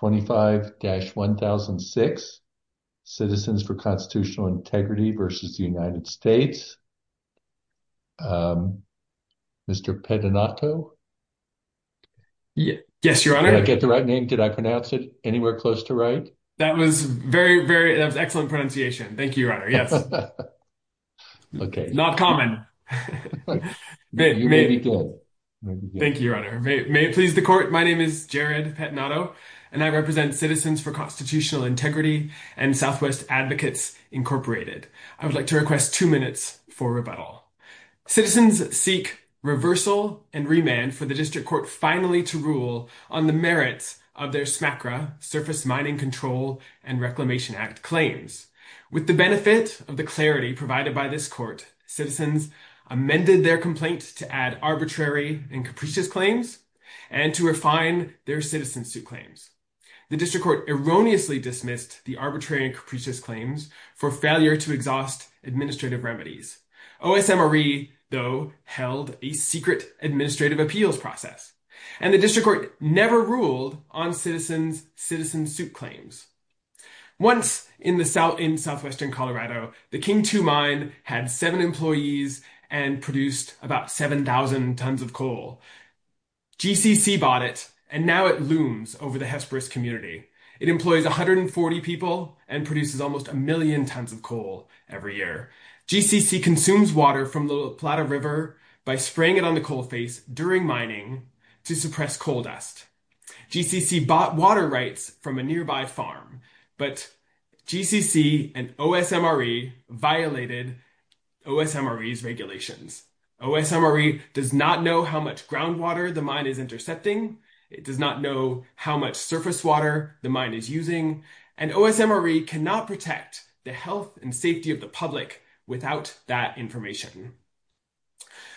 25-1006 Citizens for Constitutional Integrity v. United States Mr. Pettinato? Yes, Your Honor. Did I get the right name? Did I pronounce it anywhere close to right? That was very, very, that was excellent pronunciation. Thank you, Your Honor. Yes. Okay. Not common. You may be good. Thank you, Your Honor. May it please the Court. My name is Jared Pettinato, and I represent Citizens for Constitutional Integrity and Southwest Advocates Incorporated. I would like to request two minutes for rebuttal. Citizens seek reversal and remand for the District Court finally to rule on the merits of their SMACRA, Surface Mining Control and Reclamation Act claims. With the benefit of the clarity provided by this Court, citizens amended their complaint to add arbitrary and capricious claims and to refine their citizen suit claims. The District Court erroneously dismissed the arbitrary and capricious claims for failure to exhaust administrative remedies. OSMRE, though, held a secret administrative appeals process, and the District Court never ruled on citizens' citizen suit claims. Once in Southwestern Colorado, the King 2 Mine had seven employees and produced about 7,000 tons of coal. GCC bought it, and now it looms over the Hesperus community. It employs 140 people and produces almost a million tons of coal every year. GCC consumes water from the La Plata River by spraying it on the coal face during mining to suppress coal dust. GCC bought water rights from a nearby farm, but GCC and OSMRE violated OSMRE's regulations. OSMRE does not know how much groundwater the mine is intercepting. It does not know how much surface water the mine is using. And OSMRE cannot protect the health and safety of the public without that information.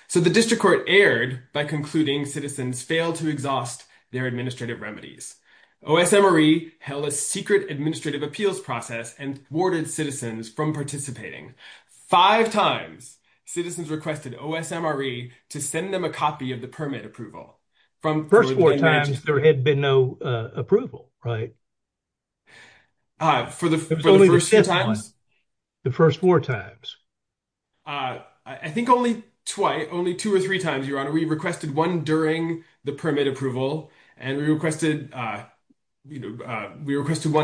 So the District Court erred by concluding citizens failed to exhaust their administrative remedies. OSMRE held a secret administrative appeals process and thwarted citizens from participating. Five times, citizens requested OSMRE to send them a copy of the permit approval. From the first four times, there had been no approval, right? For the first four times? The first four times. I think only twice, only two or three times, Your Honor. We requested one during the permit approval, and we requested one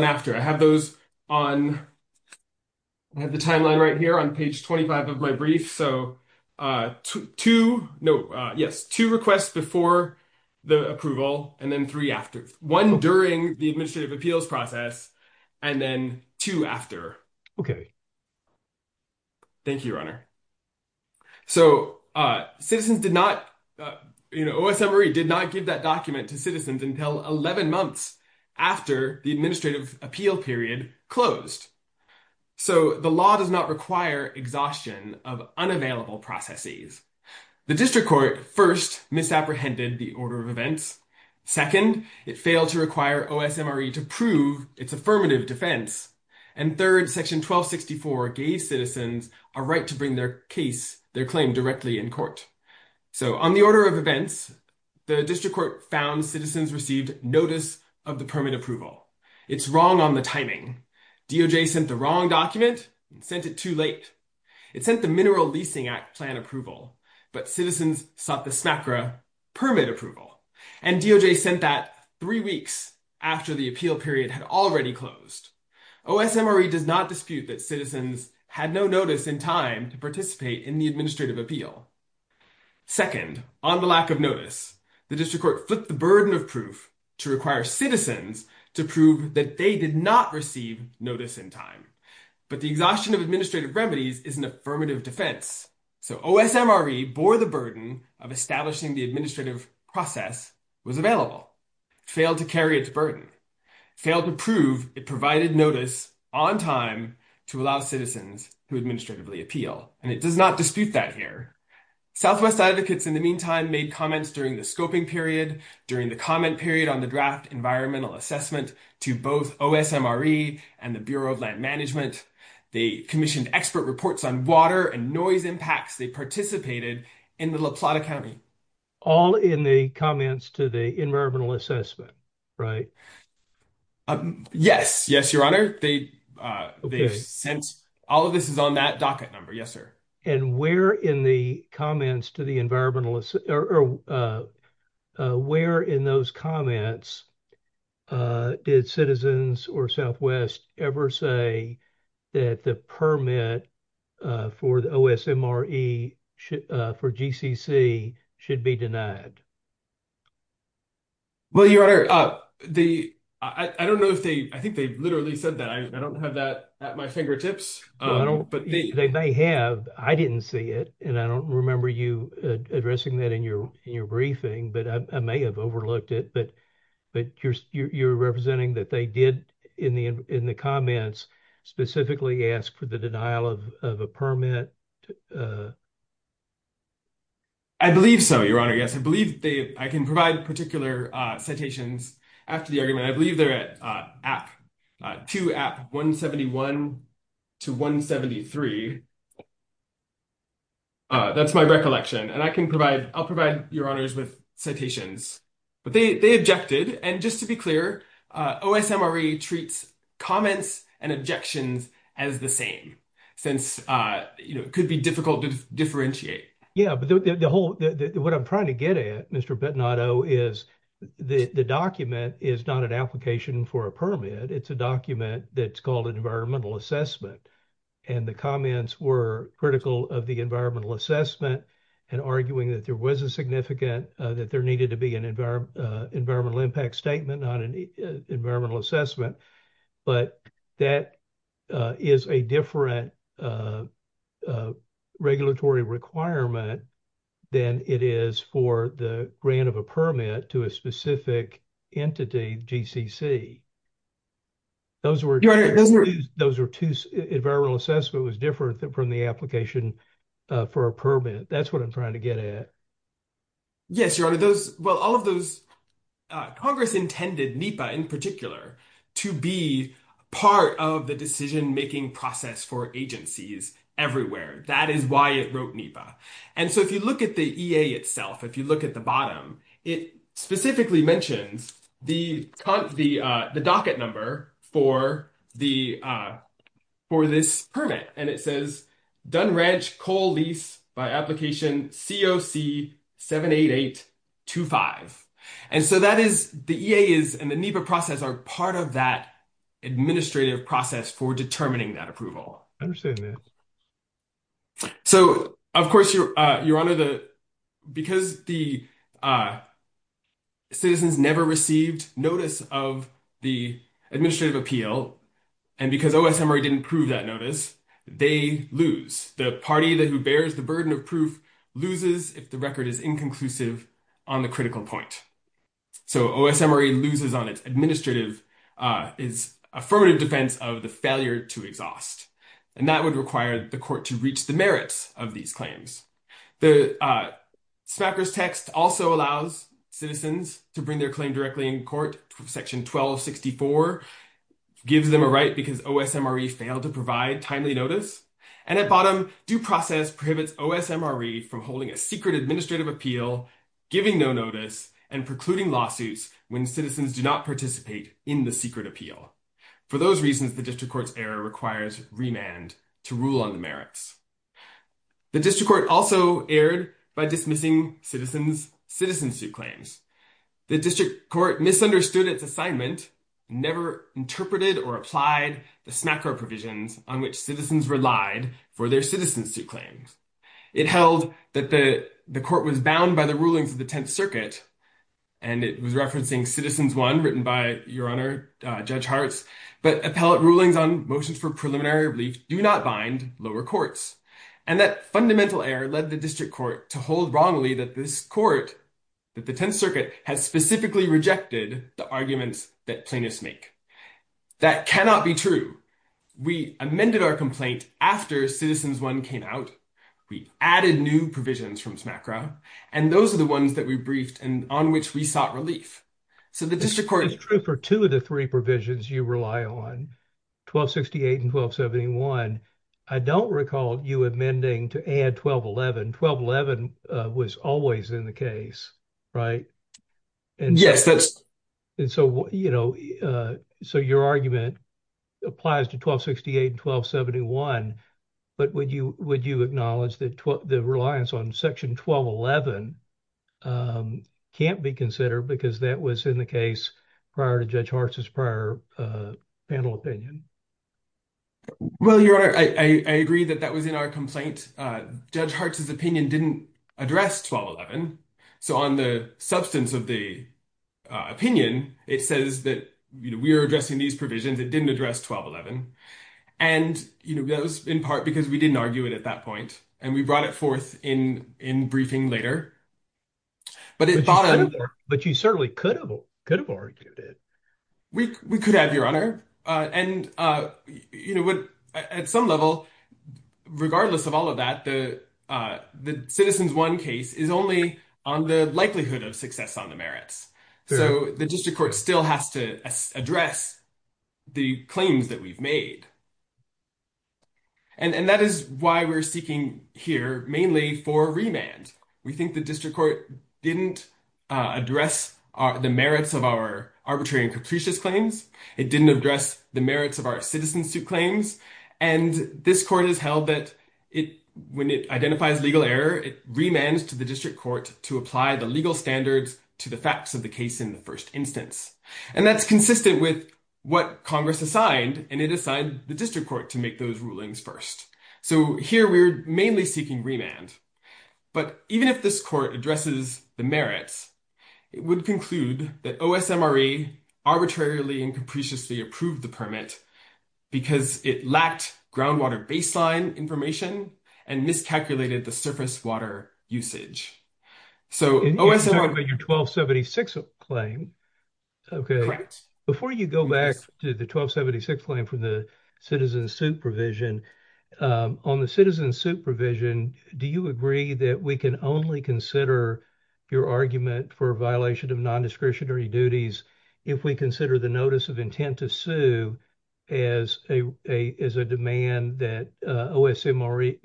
after. I have those on, I have the timeline right here on page 25 of my brief. So two, no, yes, two requests before the approval, and then three after. One during the administrative appeals process, and then two after. Thank you, Your Honor. So citizens did not, you know, OSMRE did not give that document to citizens until 11 months after the administrative appeal period closed. So the law does not require exhaustion of unavailable processes. The District Court first misapprehended the order of events. Second, it failed to require OSMRE to prove its affirmative defense. And third, Section 1264 gave citizens a right to bring their case, their claim directly in court. So on the order of events, the District Court found citizens received notice of the permit approval. It's wrong on the timing. DOJ sent the wrong document and sent it too late. It sent the Mineral Leasing Act plan approval, but citizens sought the smacra permit approval. And DOJ sent that three weeks after the appeal period had already closed. OSMRE does not dispute that citizens had no notice in time to participate in the administrative appeal. Second, on the lack of notice, the District Court flipped the burden of proof to require citizens to prove that they did not receive notice in time. But the exhaustion of administrative remedies is an affirmative defense. So OSMRE bore the burden of establishing the administrative process was available, failed to carry its burden, failed to prove it provided notice on time to allow citizens to administratively appeal. And it does not dispute that here. Southwest Advocates in the meantime made comments during the scoping period, during the comment period on the draft environmental assessment to both OSMRE and the Bureau of Land Management. They commissioned expert reports on water and noise impacts they participated in the La Plata County. All in the comments to the environmental assessment, right? Yes. Yes, Your Honor. Yes, Your Honor. They sent, all of this is on that docket number. Yes, sir. And where in the comments to the environmentalists, or where in those comments did citizens or Southwest ever say that the permit for the OSMRE for GCC should be denied? Well, Your Honor, they, I don't know if they, I think they've literally said that I don't have that at my fingertips. They may have. I didn't see it. And I don't remember you addressing that in your, in your briefing, but I may have overlooked it. But, but you're, you're representing that they did in the, in the comments specifically ask for the denial of a permit. I believe so, Your Honor. Yes, I believe they, I can provide particular citations after the argument. And I believe they're at app, to app 171 to 173. That's my recollection. And I can provide, I'll provide Your Honors with citations, but they, they objected. And just to be clear, OSMRE treats comments and objections as the same, since, you know, it could be difficult to differentiate. Yeah, but the whole, what I'm trying to get at, Mr. Bettinato, is the document is not an application for a permit. It's a document that's called an environmental assessment. And the comments were critical of the environmental assessment and arguing that there was a significant, that there needed to be an environment, environmental impact statement, not an environmental assessment. But that is a different regulatory requirement than it is for the grant of a permit to a CCC. Those were, those were two, environmental assessment was different than from the application for a permit. That's what I'm trying to get at. Yes, Your Honor. Those, well, all of those, Congress intended NEPA in particular to be part of the decision-making process for agencies everywhere. That is why it wrote NEPA. And so if you look at the EA itself, if you look at the bottom, it specifically mentions the docket number for the, for this permit. And it says, Dunn Ranch coal lease by application COC 78825. And so that is, the EA is, and the NEPA process are part of that administrative process for determining that approval. I understand that. So, of course, Your Honor, the, because the citizens never received notice of the administrative appeal, and because OSMRE didn't prove that notice, they lose. The party that bears the burden of proof loses if the record is inconclusive on the critical point. So, OSMRE loses on its administrative, its affirmative defense of the failure to exhaust. And that would require the court to reach the merits of these claims. The Smackers text also allows citizens to bring their claim directly in court. Section 1264 gives them a right because OSMRE failed to provide timely notice. And at bottom, due process prohibits OSMRE from holding a secret administrative appeal, giving no notice, and precluding lawsuits when citizens do not participate in the secret appeal. For those reasons, the district court's error requires remand to rule on the merits. The district court also erred by dismissing citizens' citizenship claims. The district court misunderstood its assignment, never interpreted or applied the Smacker provisions on which citizens relied for their citizenship claims. It held that the court was bound by the rulings of the 10th Circuit, and it was referencing Citizens One, written by Your Honor, Judge Hartz, but appellate rulings on motions for preliminary relief do not bind lower courts. And that fundamental error led the district court to hold wrongly that this court, that the 10th Circuit, has specifically rejected the arguments that plaintiffs make. That cannot be true. We amended our complaint after Citizens One came out. We added new provisions from Smack Row, and those are the ones that we briefed and on which we sought relief. So the district court... It's true for two of the three provisions you rely on, 1268 and 1271, I don't recall you amending to add 1211. 1211 was always in the case, right? Yes, that's... And so, you know, so your argument applies to 1268 and 1271, but would you acknowledge that the reliance on Section 1211 can't be considered because that was in the case prior to Judge Hartz's prior panel opinion? Well, Your Honor, I agree that that was in our complaint. Judge Hartz's opinion didn't address 1211. So on the substance of the opinion, it says that, you know, we are addressing these provisions, it didn't address 1211. And, you know, that was in part because we didn't argue it at that point. And we brought it forth in briefing later. But it... But you certainly could have argued it. We could have, Your Honor. And, you know, at some level, regardless of all of that, the Citizens One case is only on the likelihood of success on the merits. So the district court still has to address the claims that we've made. And that is why we're seeking here mainly for remand. We think the district court didn't address the merits of our arbitrary and capricious claims. It didn't address the merits of our citizen suit claims. And this court has held that when it identifies legal error, it remands to the district court to apply the legal standards to the facts of the case in the first instance. And that's consistent with what Congress assigned, and it assigned the district court to make those rulings first. So here we're mainly seeking remand. But even if this court addresses the merits, it would conclude that OSMRE arbitrarily and capriciously approved the permit because it lacked groundwater baseline information and miscalculated the surface water usage. So OSMRE... And you're talking about your 1276 claim, okay? Before you go back to the 1276 claim from the citizen suit provision, on the citizen suit provision, do you agree that we can only consider your argument for a violation of non-discretionary duties if we consider the notice of intent to sue as a demand that OSMRE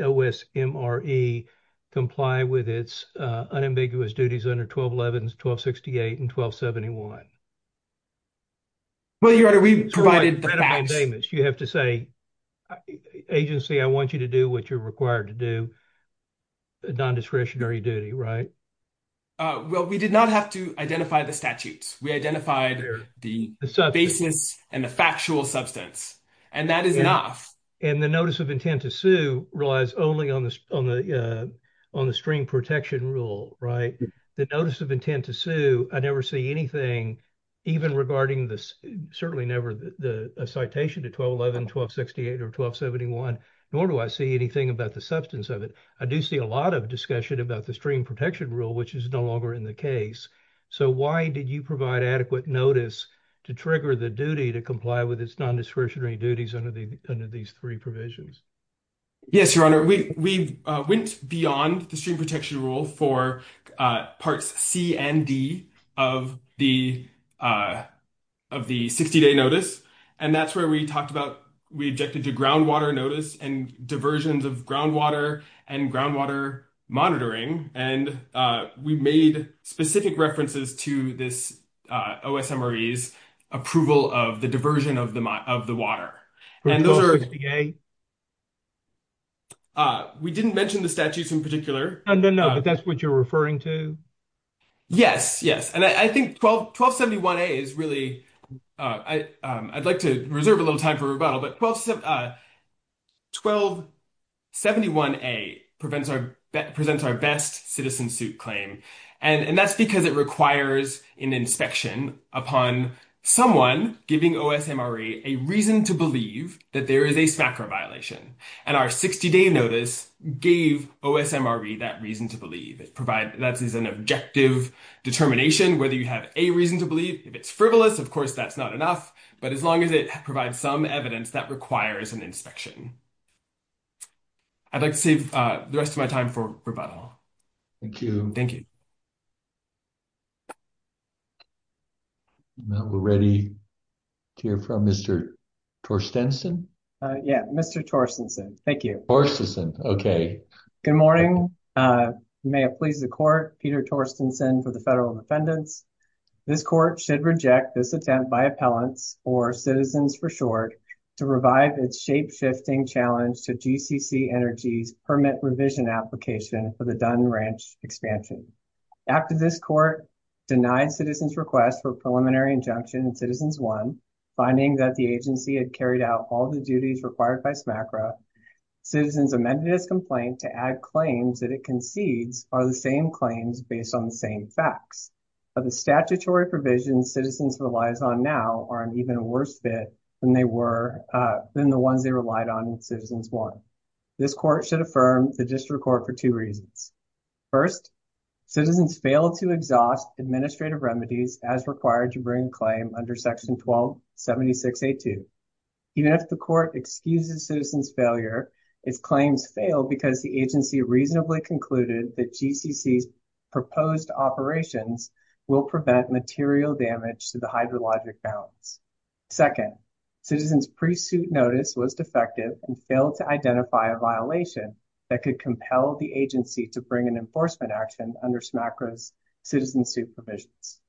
OSMRE comply with its unambiguous duties under 1211, 1268, and 1271? Well, Your Honor, we provided the facts. You have to say, agency, I want you to do what you're required to do, non-discretionary duty, right? Well, we did not have to identify the statutes. We identified the basis and the factual substance. And that is enough. And the notice of intent to sue relies only on the stream protection rule, right? The notice of intent to sue, I never see anything even regarding this, certainly never the citation to 1211, 1268, or 1271, nor do I see anything about the substance of it. I do see a lot of discussion about the stream protection rule, which is no longer in the case. So why did you provide adequate notice to trigger the duty to comply with its non-discretionary under these three provisions? Yes, Your Honor, we went beyond the stream protection rule for parts C and D of the 60-day notice. And that's where we talked about, we objected to groundwater notice and diversions of groundwater and groundwater monitoring. And we made specific references to this OSMRE's approval of the diversion of the water. And those are, we didn't mention the statutes in particular. No, no, no. But that's what you're referring to? Yes, yes. And I think 1271A is really, I'd like to reserve a little time for rebuttal, but 1271A presents our best citizen suit claim. And that's because it requires an inspection upon someone giving OSMRE a reason to believe that there is a smacker violation. And our 60-day notice gave OSMRE that reason to believe. That is an objective determination, whether you have a reason to believe. If it's frivolous, of course, that's not enough. But as long as it provides some evidence, that requires an inspection. I'd like to save the rest of my time for rebuttal. Thank you. Thank you. Now we're ready to hear from Mr. Torstensen. Yeah, Mr. Torstensen. Thank you. Torstensen, okay. Good morning. You may have pleased the court, Peter Torstensen for the federal defendants. This court should reject this attempt by appellants or citizens for short to revive its shape-shifting challenge to GCC Energy's permit revision application for the Dunn Ranch expansion. After this court denied citizens' request for preliminary injunction in Citizens 1, finding that the agency had carried out all the duties required by SMACRA, citizens amended its complaint to add claims that it concedes are the same claims based on the same facts. But the statutory provisions citizens relies on now are an even worse fit than they were, than the ones they relied on in Citizens 1. This court should affirm the district court for two reasons. First, citizens failed to exhaust administrative remedies as required to bring claim under section 1276A2. Even if the court excuses citizens' failure, its claims failed because the agency reasonably concluded that GCC's proposed operations will prevent material damage to the hydrologic balance. Second, citizens' pre-suit notice was defective and failed to identify a violation that could compel the agency to bring an enforcement action under SMACRA's citizen suit provisions.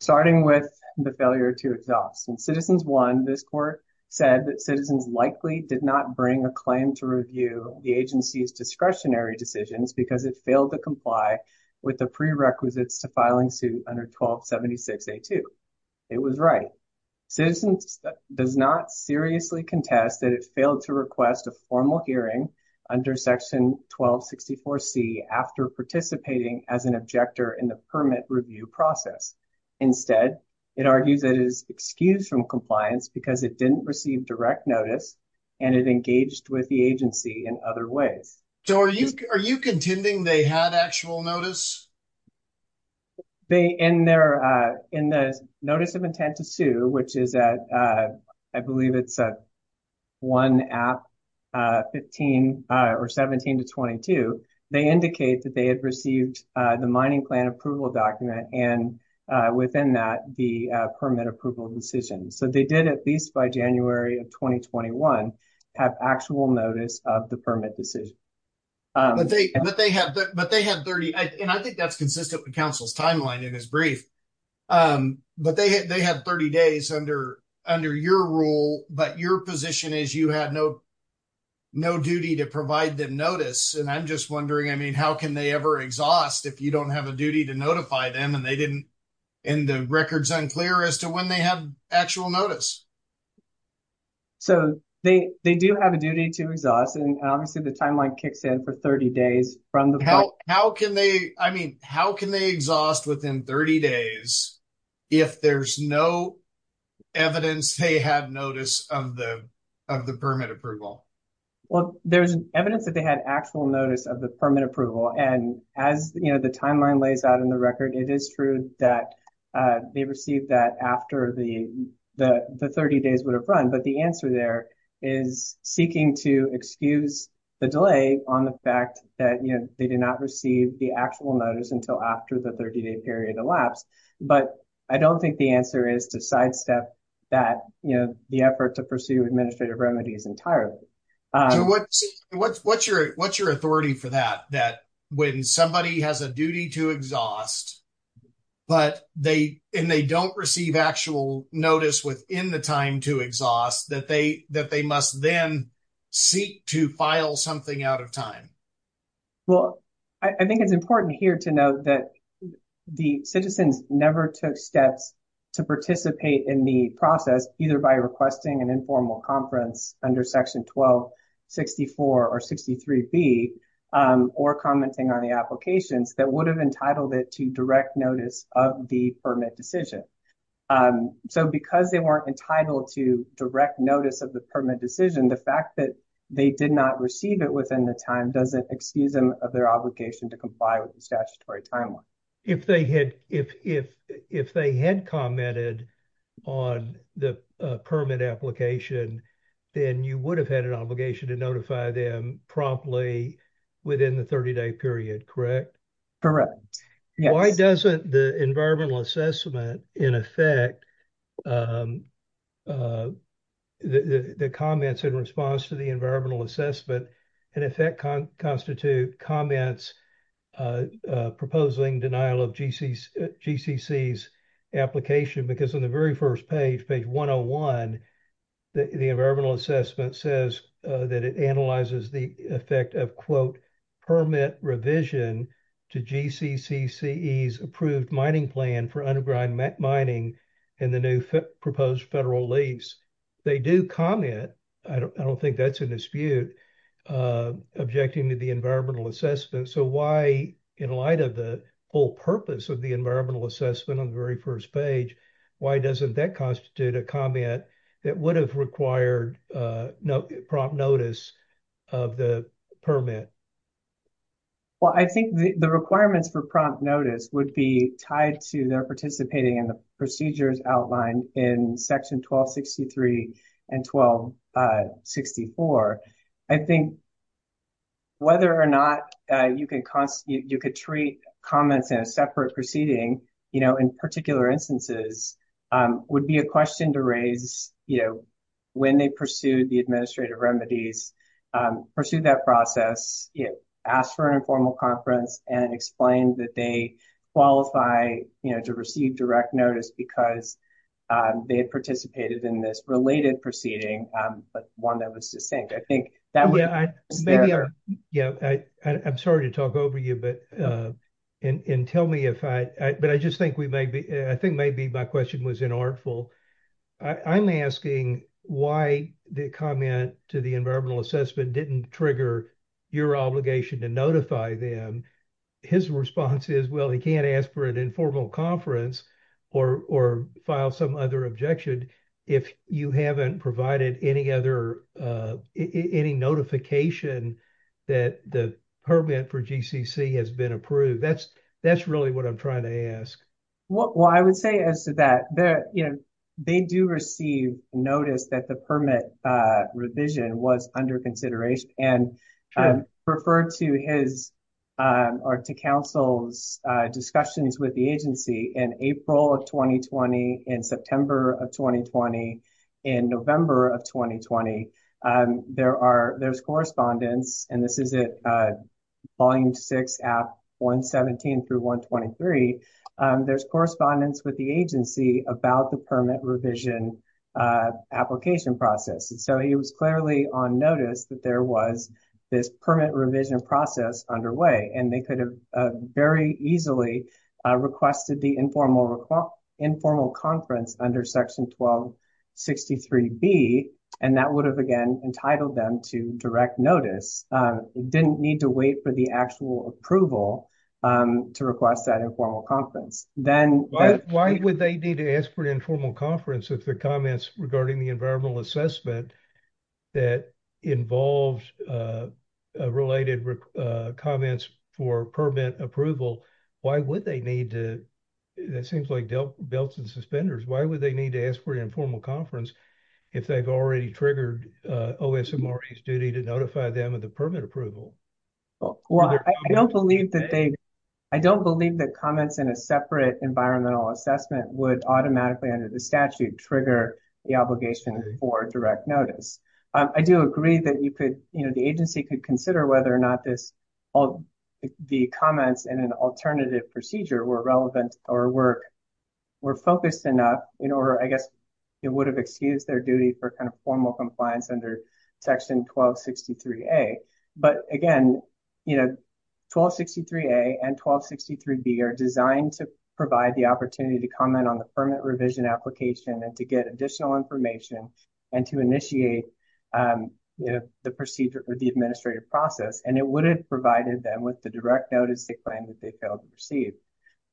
Starting with the failure to exhaust. In Citizens 1, this court said that citizens likely did not bring a claim to review the agency's discretionary decisions because it failed to comply with the prerequisites to filing suit under 1276A2. It was right. Citizens does not seriously contest that it failed to request a formal hearing under section 1264C after participating as an objector in the permit review process. Instead, it argues that it is excused from compliance because it didn't receive direct notice and it engaged with the agency in other ways. So are you contending they had actual notice? They, in their, uh, in the notice of intent to sue, which is at, uh, I believe it's at 1 App, uh, 15, uh, or 17 to 22, they indicate that they had received, uh, the mining plan approval document and, uh, within that, the, uh, permit approval decision. So they did at least by January of 2021 have actual notice of the permit decision. Um, but they, but they have, but they have 30. And I think that's consistent with council's timeline in his brief. Um, but they, they have 30 days under, under your rule, but your position is you had no, no duty to provide them notice. And I'm just wondering, I mean, how can they ever exhaust if you don't have a duty to notify them and they didn't. And the record's unclear as to when they have actual notice. So they, they do have a duty to exhaust. Obviously the timeline kicks in for 30 days from the how, how can they, I mean, how can they exhaust within 30 days? If there's no evidence, they had notice of the, of the permit approval. Well, there's evidence that they had actual notice of the permit approval. And as you know, the timeline lays out in the record, it is true that, uh, they received that after the, the, the 30 days would have run. But the answer there is seeking to excuse the delay on the fact that, you know, they did not receive the actual notice until after the 30 day period elapsed. But I don't think the answer is to sidestep that, you know, the effort to pursue administrative remedies entirely. So what's, what's, what's your, what's your authority for that? That when somebody has a duty to exhaust, but they, and they don't receive actual notice within the time to exhaust that they, that they must then seek to file something out of time. Well, I think it's important here to note that the citizens never took steps to participate in the process, either by requesting an informal conference under section 1264 or 63B, um, or commenting on the applications that would have entitled it to direct notice of the permit decision. Um, so because they weren't entitled to direct notice of the permit decision, the fact that they did not receive it within the time doesn't excuse them of their obligation to comply with the statutory timeline. If they had, if, if, if they had commented on the permit application, then you would have had an obligation to notify them promptly within the 30 day period, correct? Correct. Why doesn't the environmental assessment in effect, um, uh, the, the comments in response to the environmental assessment, and if that can constitute comments, uh, uh, proposing denial of GCC's application, because on the very first page, page 101, the environmental assessment says, uh, it analyzes the effect of quote, permit revision to GCCCE's approved mining plan for underground mining and the new proposed federal lease. They do comment. I don't, I don't think that's a dispute, uh, objecting to the environmental assessment. So why, in light of the whole purpose of the environmental assessment on the very first page, why doesn't that constitute a comment that would have required, uh, no prompt notice of the permit? Well, I think the requirements for prompt notice would be tied to their participating in the procedures outlined in section 1263 and 1264. I think whether or not you can constitute, you could treat comments in a separate proceeding, you know, in particular instances, um, would be a question to raise, you know, when they pursued the administrative remedies, um, pursue that process, you know, ask for an informal conference and explain that they qualify, you know, to receive direct notice because, um, they had participated in this related proceeding, um, but one that was succinct. I think that would be fair. Yeah, I, maybe I, yeah, I, I, I'm sorry to talk over you, but, uh, and, and tell me if I, but I just think we may be, I think maybe my question was inartful. I, I'm asking why the comment to the environmental assessment didn't trigger your obligation to notify them. His response is, well, he can't ask for an informal conference or, or file some other objection if you haven't provided any other, uh, any notification that the permit for GCC has been approved. That's, that's really what I'm trying to ask. Well, I would say as to that there, you know, they do receive notice that the permit, uh, revision was under consideration and, um, referred to his, um, or to council's, uh, discussions with the agency in April of 2020, in September of 2020, in November of 2020, um, there are, there's correspondence, and this is at, uh, volume six at 117 through 123. Um, there's correspondence with the agency about the permit revision, uh, application process. And so he was clearly on notice that there was this permit revision process underway, and they could have very easily requested the informal, informal conference under section 1263B. And that would have, again, entitled them to direct notice, uh, didn't need to wait for the actual approval, um, to request that informal conference. Then- Why would they need to ask for an informal conference if the comments regarding the environmental assessment that involved, uh, related, uh, comments for permit approval, why would they need to, that seems like belts and suspenders, why would they need to ask for the, uh, OSMRE's duty to notify them of the permit approval? Well, I don't believe that they, I don't believe that comments in a separate environmental assessment would automatically under the statute trigger the obligation for direct notice. I do agree that you could, you know, the agency could consider whether or not this, all the comments in an alternative procedure were relevant or were, were focused enough in order, I guess, it would excuse their duty for kind of formal compliance under section 1263A. But again, you know, 1263A and 1263B are designed to provide the opportunity to comment on the permit revision application and to get additional information and to initiate, um, you know, the procedure or the administrative process. And it would have provided them with the direct notice they claim that they failed to receive.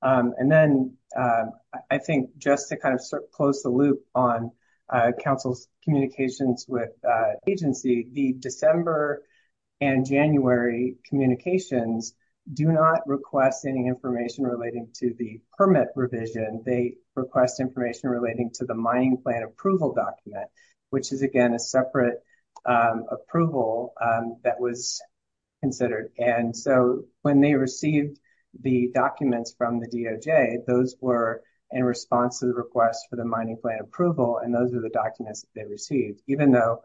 Um, and then, um, I think just to kind of close the loop on, uh, Council's communications with, uh, agency, the December and January communications do not request any information relating to the permit revision. They request information relating to the mining plan approval document, which is, again, a separate, um, approval, um, that was considered. And so when they received the documents from the DOJ, those were in response to the request for the mining plan approval. And those are the documents that they received, even though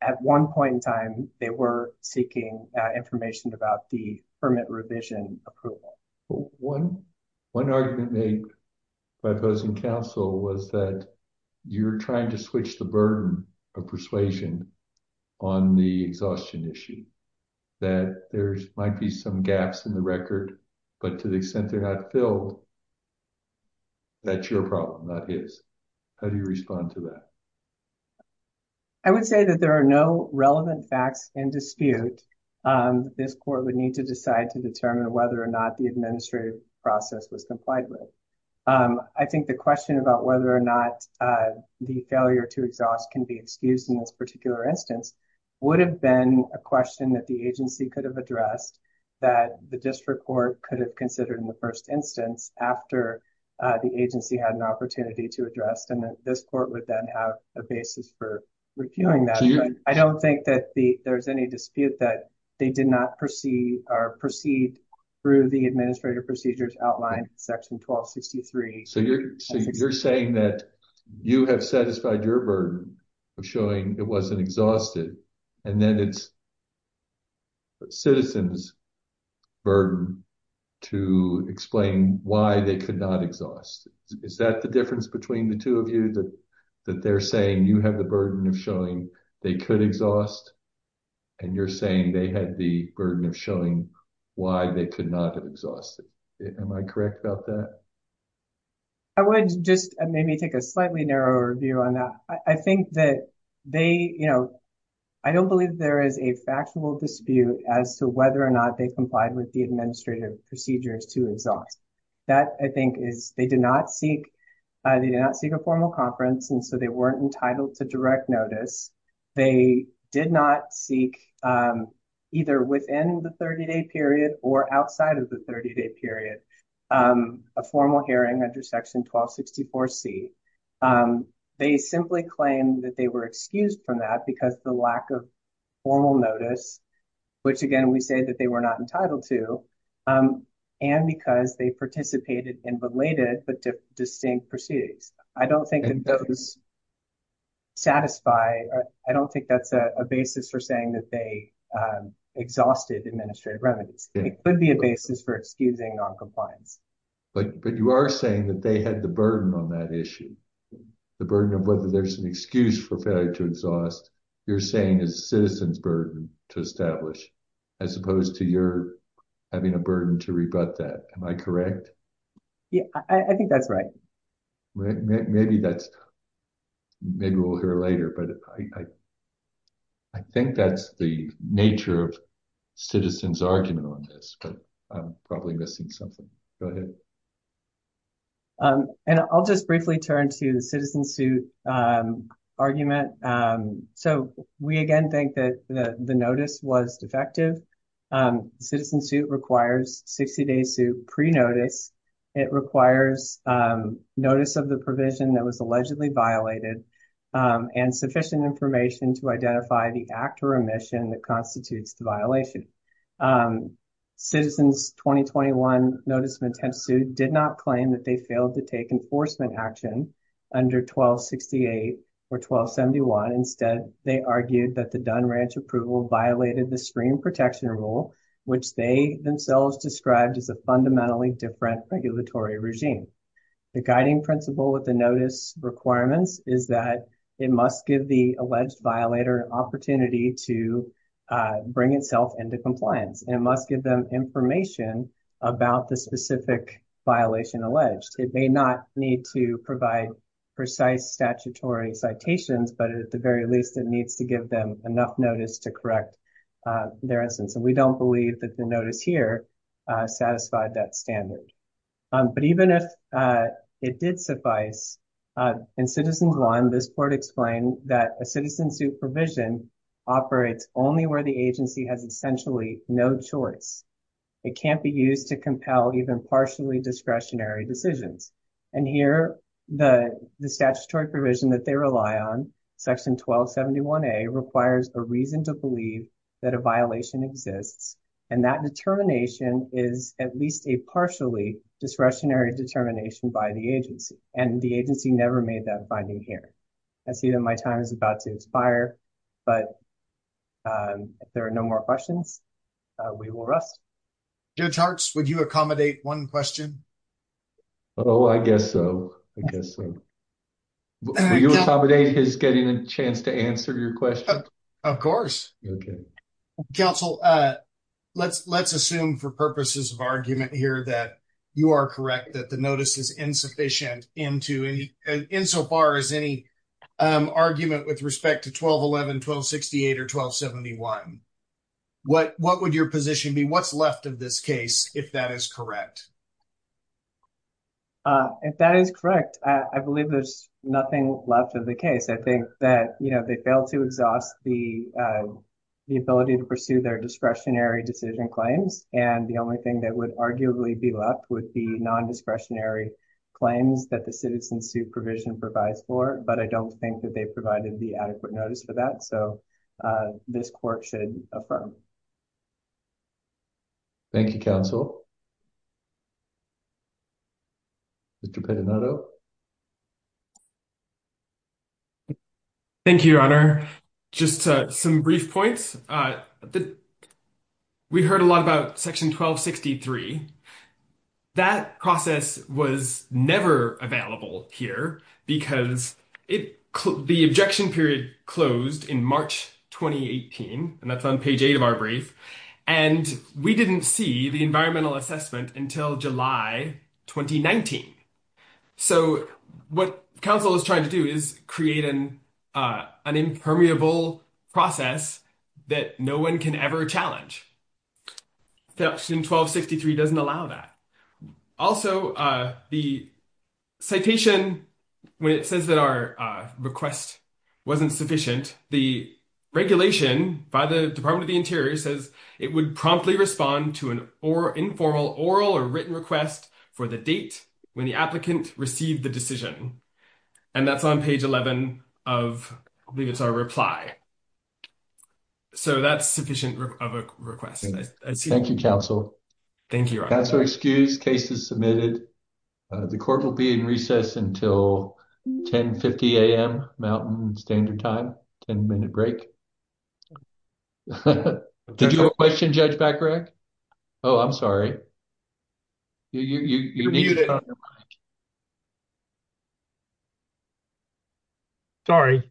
at one point in time, they were seeking, uh, information about the permit revision approval. One, one argument made by those in Council was that you're trying to switch the burden of persuasion on the exhaustion issue, that there might be some gaps in the record, but to the extent they're not filled, that's your problem, not his. How do you respond to that? I would say that there are no relevant facts in dispute. Um, this court would need to decide to determine whether or not the administrative process was complied with. Um, I think the question about whether or not, uh, the failure to exhaust can be excused in this particular instance would have been a question that the agency could have addressed that the district court could have considered in the first instance after, uh, the agency had an opportunity to address. And this court would then have a basis for reviewing that. I don't think that the, there's any dispute that they did not proceed or proceed through the administrative procedures outlined in section 1263. So you're, so you're saying that you have satisfied your burden of showing it wasn't exhausted and then it's a citizen's burden to explain why they could not exhaust. Is that the difference between the two of you that, that they're saying you have the burden of showing they could exhaust and you're saying they had the burden of showing why they could not have exhausted? Am I correct about that? I would just maybe take a slightly narrower view on that. I think that they, you know, I don't believe there is a factual dispute as to whether or not they complied with the administrative procedures to exhaust. That I think is, they did not seek, uh, they did not seek a formal conference and so they weren't entitled to direct notice. They did not seek, um, either within the 30-day period or outside of the 30-day period, um, a formal hearing under section 1264C. Um, they simply claimed that they were excused from that because the lack of formal notice, which again we say that they were not entitled to, um, and because they participated in related but distinct proceedings. I don't think those satisfy, I don't think that's a basis for saying that they, um, exhausted administrative remedies. It could be a basis for excusing non-compliance. But, but you are saying that they had the burden on that issue. The burden of whether there's an excuse for failure to exhaust, you're saying is a citizen's burden to establish as opposed to your having a burden to rebut that. Am I correct? Yeah, I think that's right. Maybe that's, maybe we'll hear later, but I, I think that's the nature of citizen's argument on this, but I'm probably missing something. Go ahead. Um, and I'll just briefly turn to the citizen suit, um, argument. Um, so we again think that the notice was defective. Um, citizen suit requires 60-day suit pre-notice. It requires, um, notice of the provision that was allegedly violated, um, and sufficient information to identify the act or omission that constitutes the violation. Um, citizens 2021 notice of intent suit did not claim that they failed to take enforcement action under 1268 or 1271. Instead, they argued that the Dunn Ranch approval violated the stream protection rule, which they themselves described as a fundamentally different regulatory regime. The guiding principle with the notice requirements is that it must give the alleged violator an opportunity to, uh, bring itself into compliance and it must give them information about the specific violation alleged. It may not need to provide precise statutory citations, but at the very least, it needs to give them enough notice to correct, uh, their instance. And we don't believe that the notice here, uh, satisfied that standard. Um, but even if, uh, it did suffice, uh, in citizens one, this board explained that a citizen's supervision operates only where the agency has essentially no choice. It can't be used to compel even partially discretionary decisions. And here, the, the statutory provision that they rely on, section 1271A, requires a reason to believe that a violation exists. And that determination is at least a partially discretionary determination by the agency. And the agency never made that finding here. I see that my time is about to expire, but, um, if there are no more questions, uh, we will rest. Judge Hartz, would you accommodate one question? Oh, I guess so. I guess so. Will you accommodate his getting a chance to answer your question? Of course. Okay. Counsel, uh, let's, let's assume for purposes of argument here that you are correct that the 1211, 1268, or 1271. What, what would your position be? What's left of this case, if that is correct? Uh, if that is correct, I, I believe there's nothing left of the case. I think that, you know, they failed to exhaust the, uh, the ability to pursue their discretionary decision claims. And the only thing that would arguably be left would be non-discretionary claims that citizen supervision provides for, but I don't think that they provided the adequate notice for that. So, uh, this court should affirm. Thank you, counsel. Mr. Pettinato. Thank you, your honor. Just, uh, some brief points. Uh, the, we heard a lot about section 1263. That process was never available here because it, the objection period closed in March, 2018, and that's on page eight of our brief. And we didn't see the environmental assessment until July, 2019. So what counsel is trying to do is create an, uh, an impermeable process that no one can ever challenge. Section 1263 doesn't allow that. Also, uh, the citation, when it says that our, uh, request wasn't sufficient, the regulation by the department of the interior says it would promptly respond to an or informal oral or written request for the date when the applicant received the decision. And that's on page 11 of, I believe it's our reply. So that's sufficient of a request. Thank you, counsel. Thank you, your honor. Counsel, excused. Case is submitted. The court will be in recess until 10 50 AM mountain standard time, 10 minute break. Did you have a question, Judge Becker? Oh, I'm sorry. Sorry.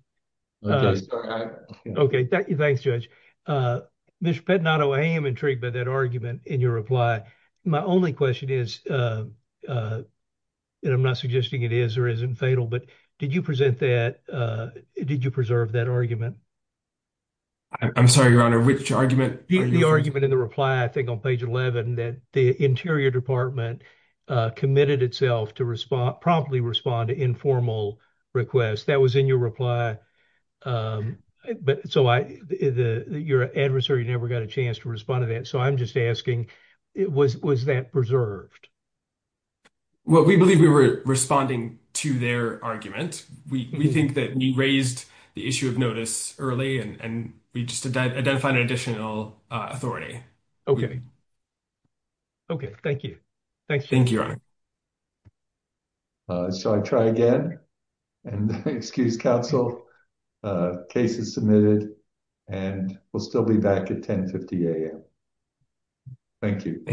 Okay. Thank you. Thanks, Judge. Uh, Mr. Pettinato, I am intrigued by that argument in your reply. My only question is, uh, uh, and I'm not suggesting it is or isn't fatal, but did you present that, uh, did you preserve that argument? I'm sorry, your honor, which argument? The argument in the reply, I think on page 11, that the interior department, uh, committed itself to respond, promptly respond to informal requests that was in your reply. Um, but so I, the, your adversary never got a chance to respond to that. So I'm just asking, it was, was that preserved? Well, we believe we were responding to their argument. We, we think that you raised the issue of notice early and we just identified an additional, uh, authority. Okay. Okay. Thank you. Thanks. Thank you. Uh, so I try again and excuse counsel, uh, case is submitted and we'll still be back at 10 50 AM. Thank you.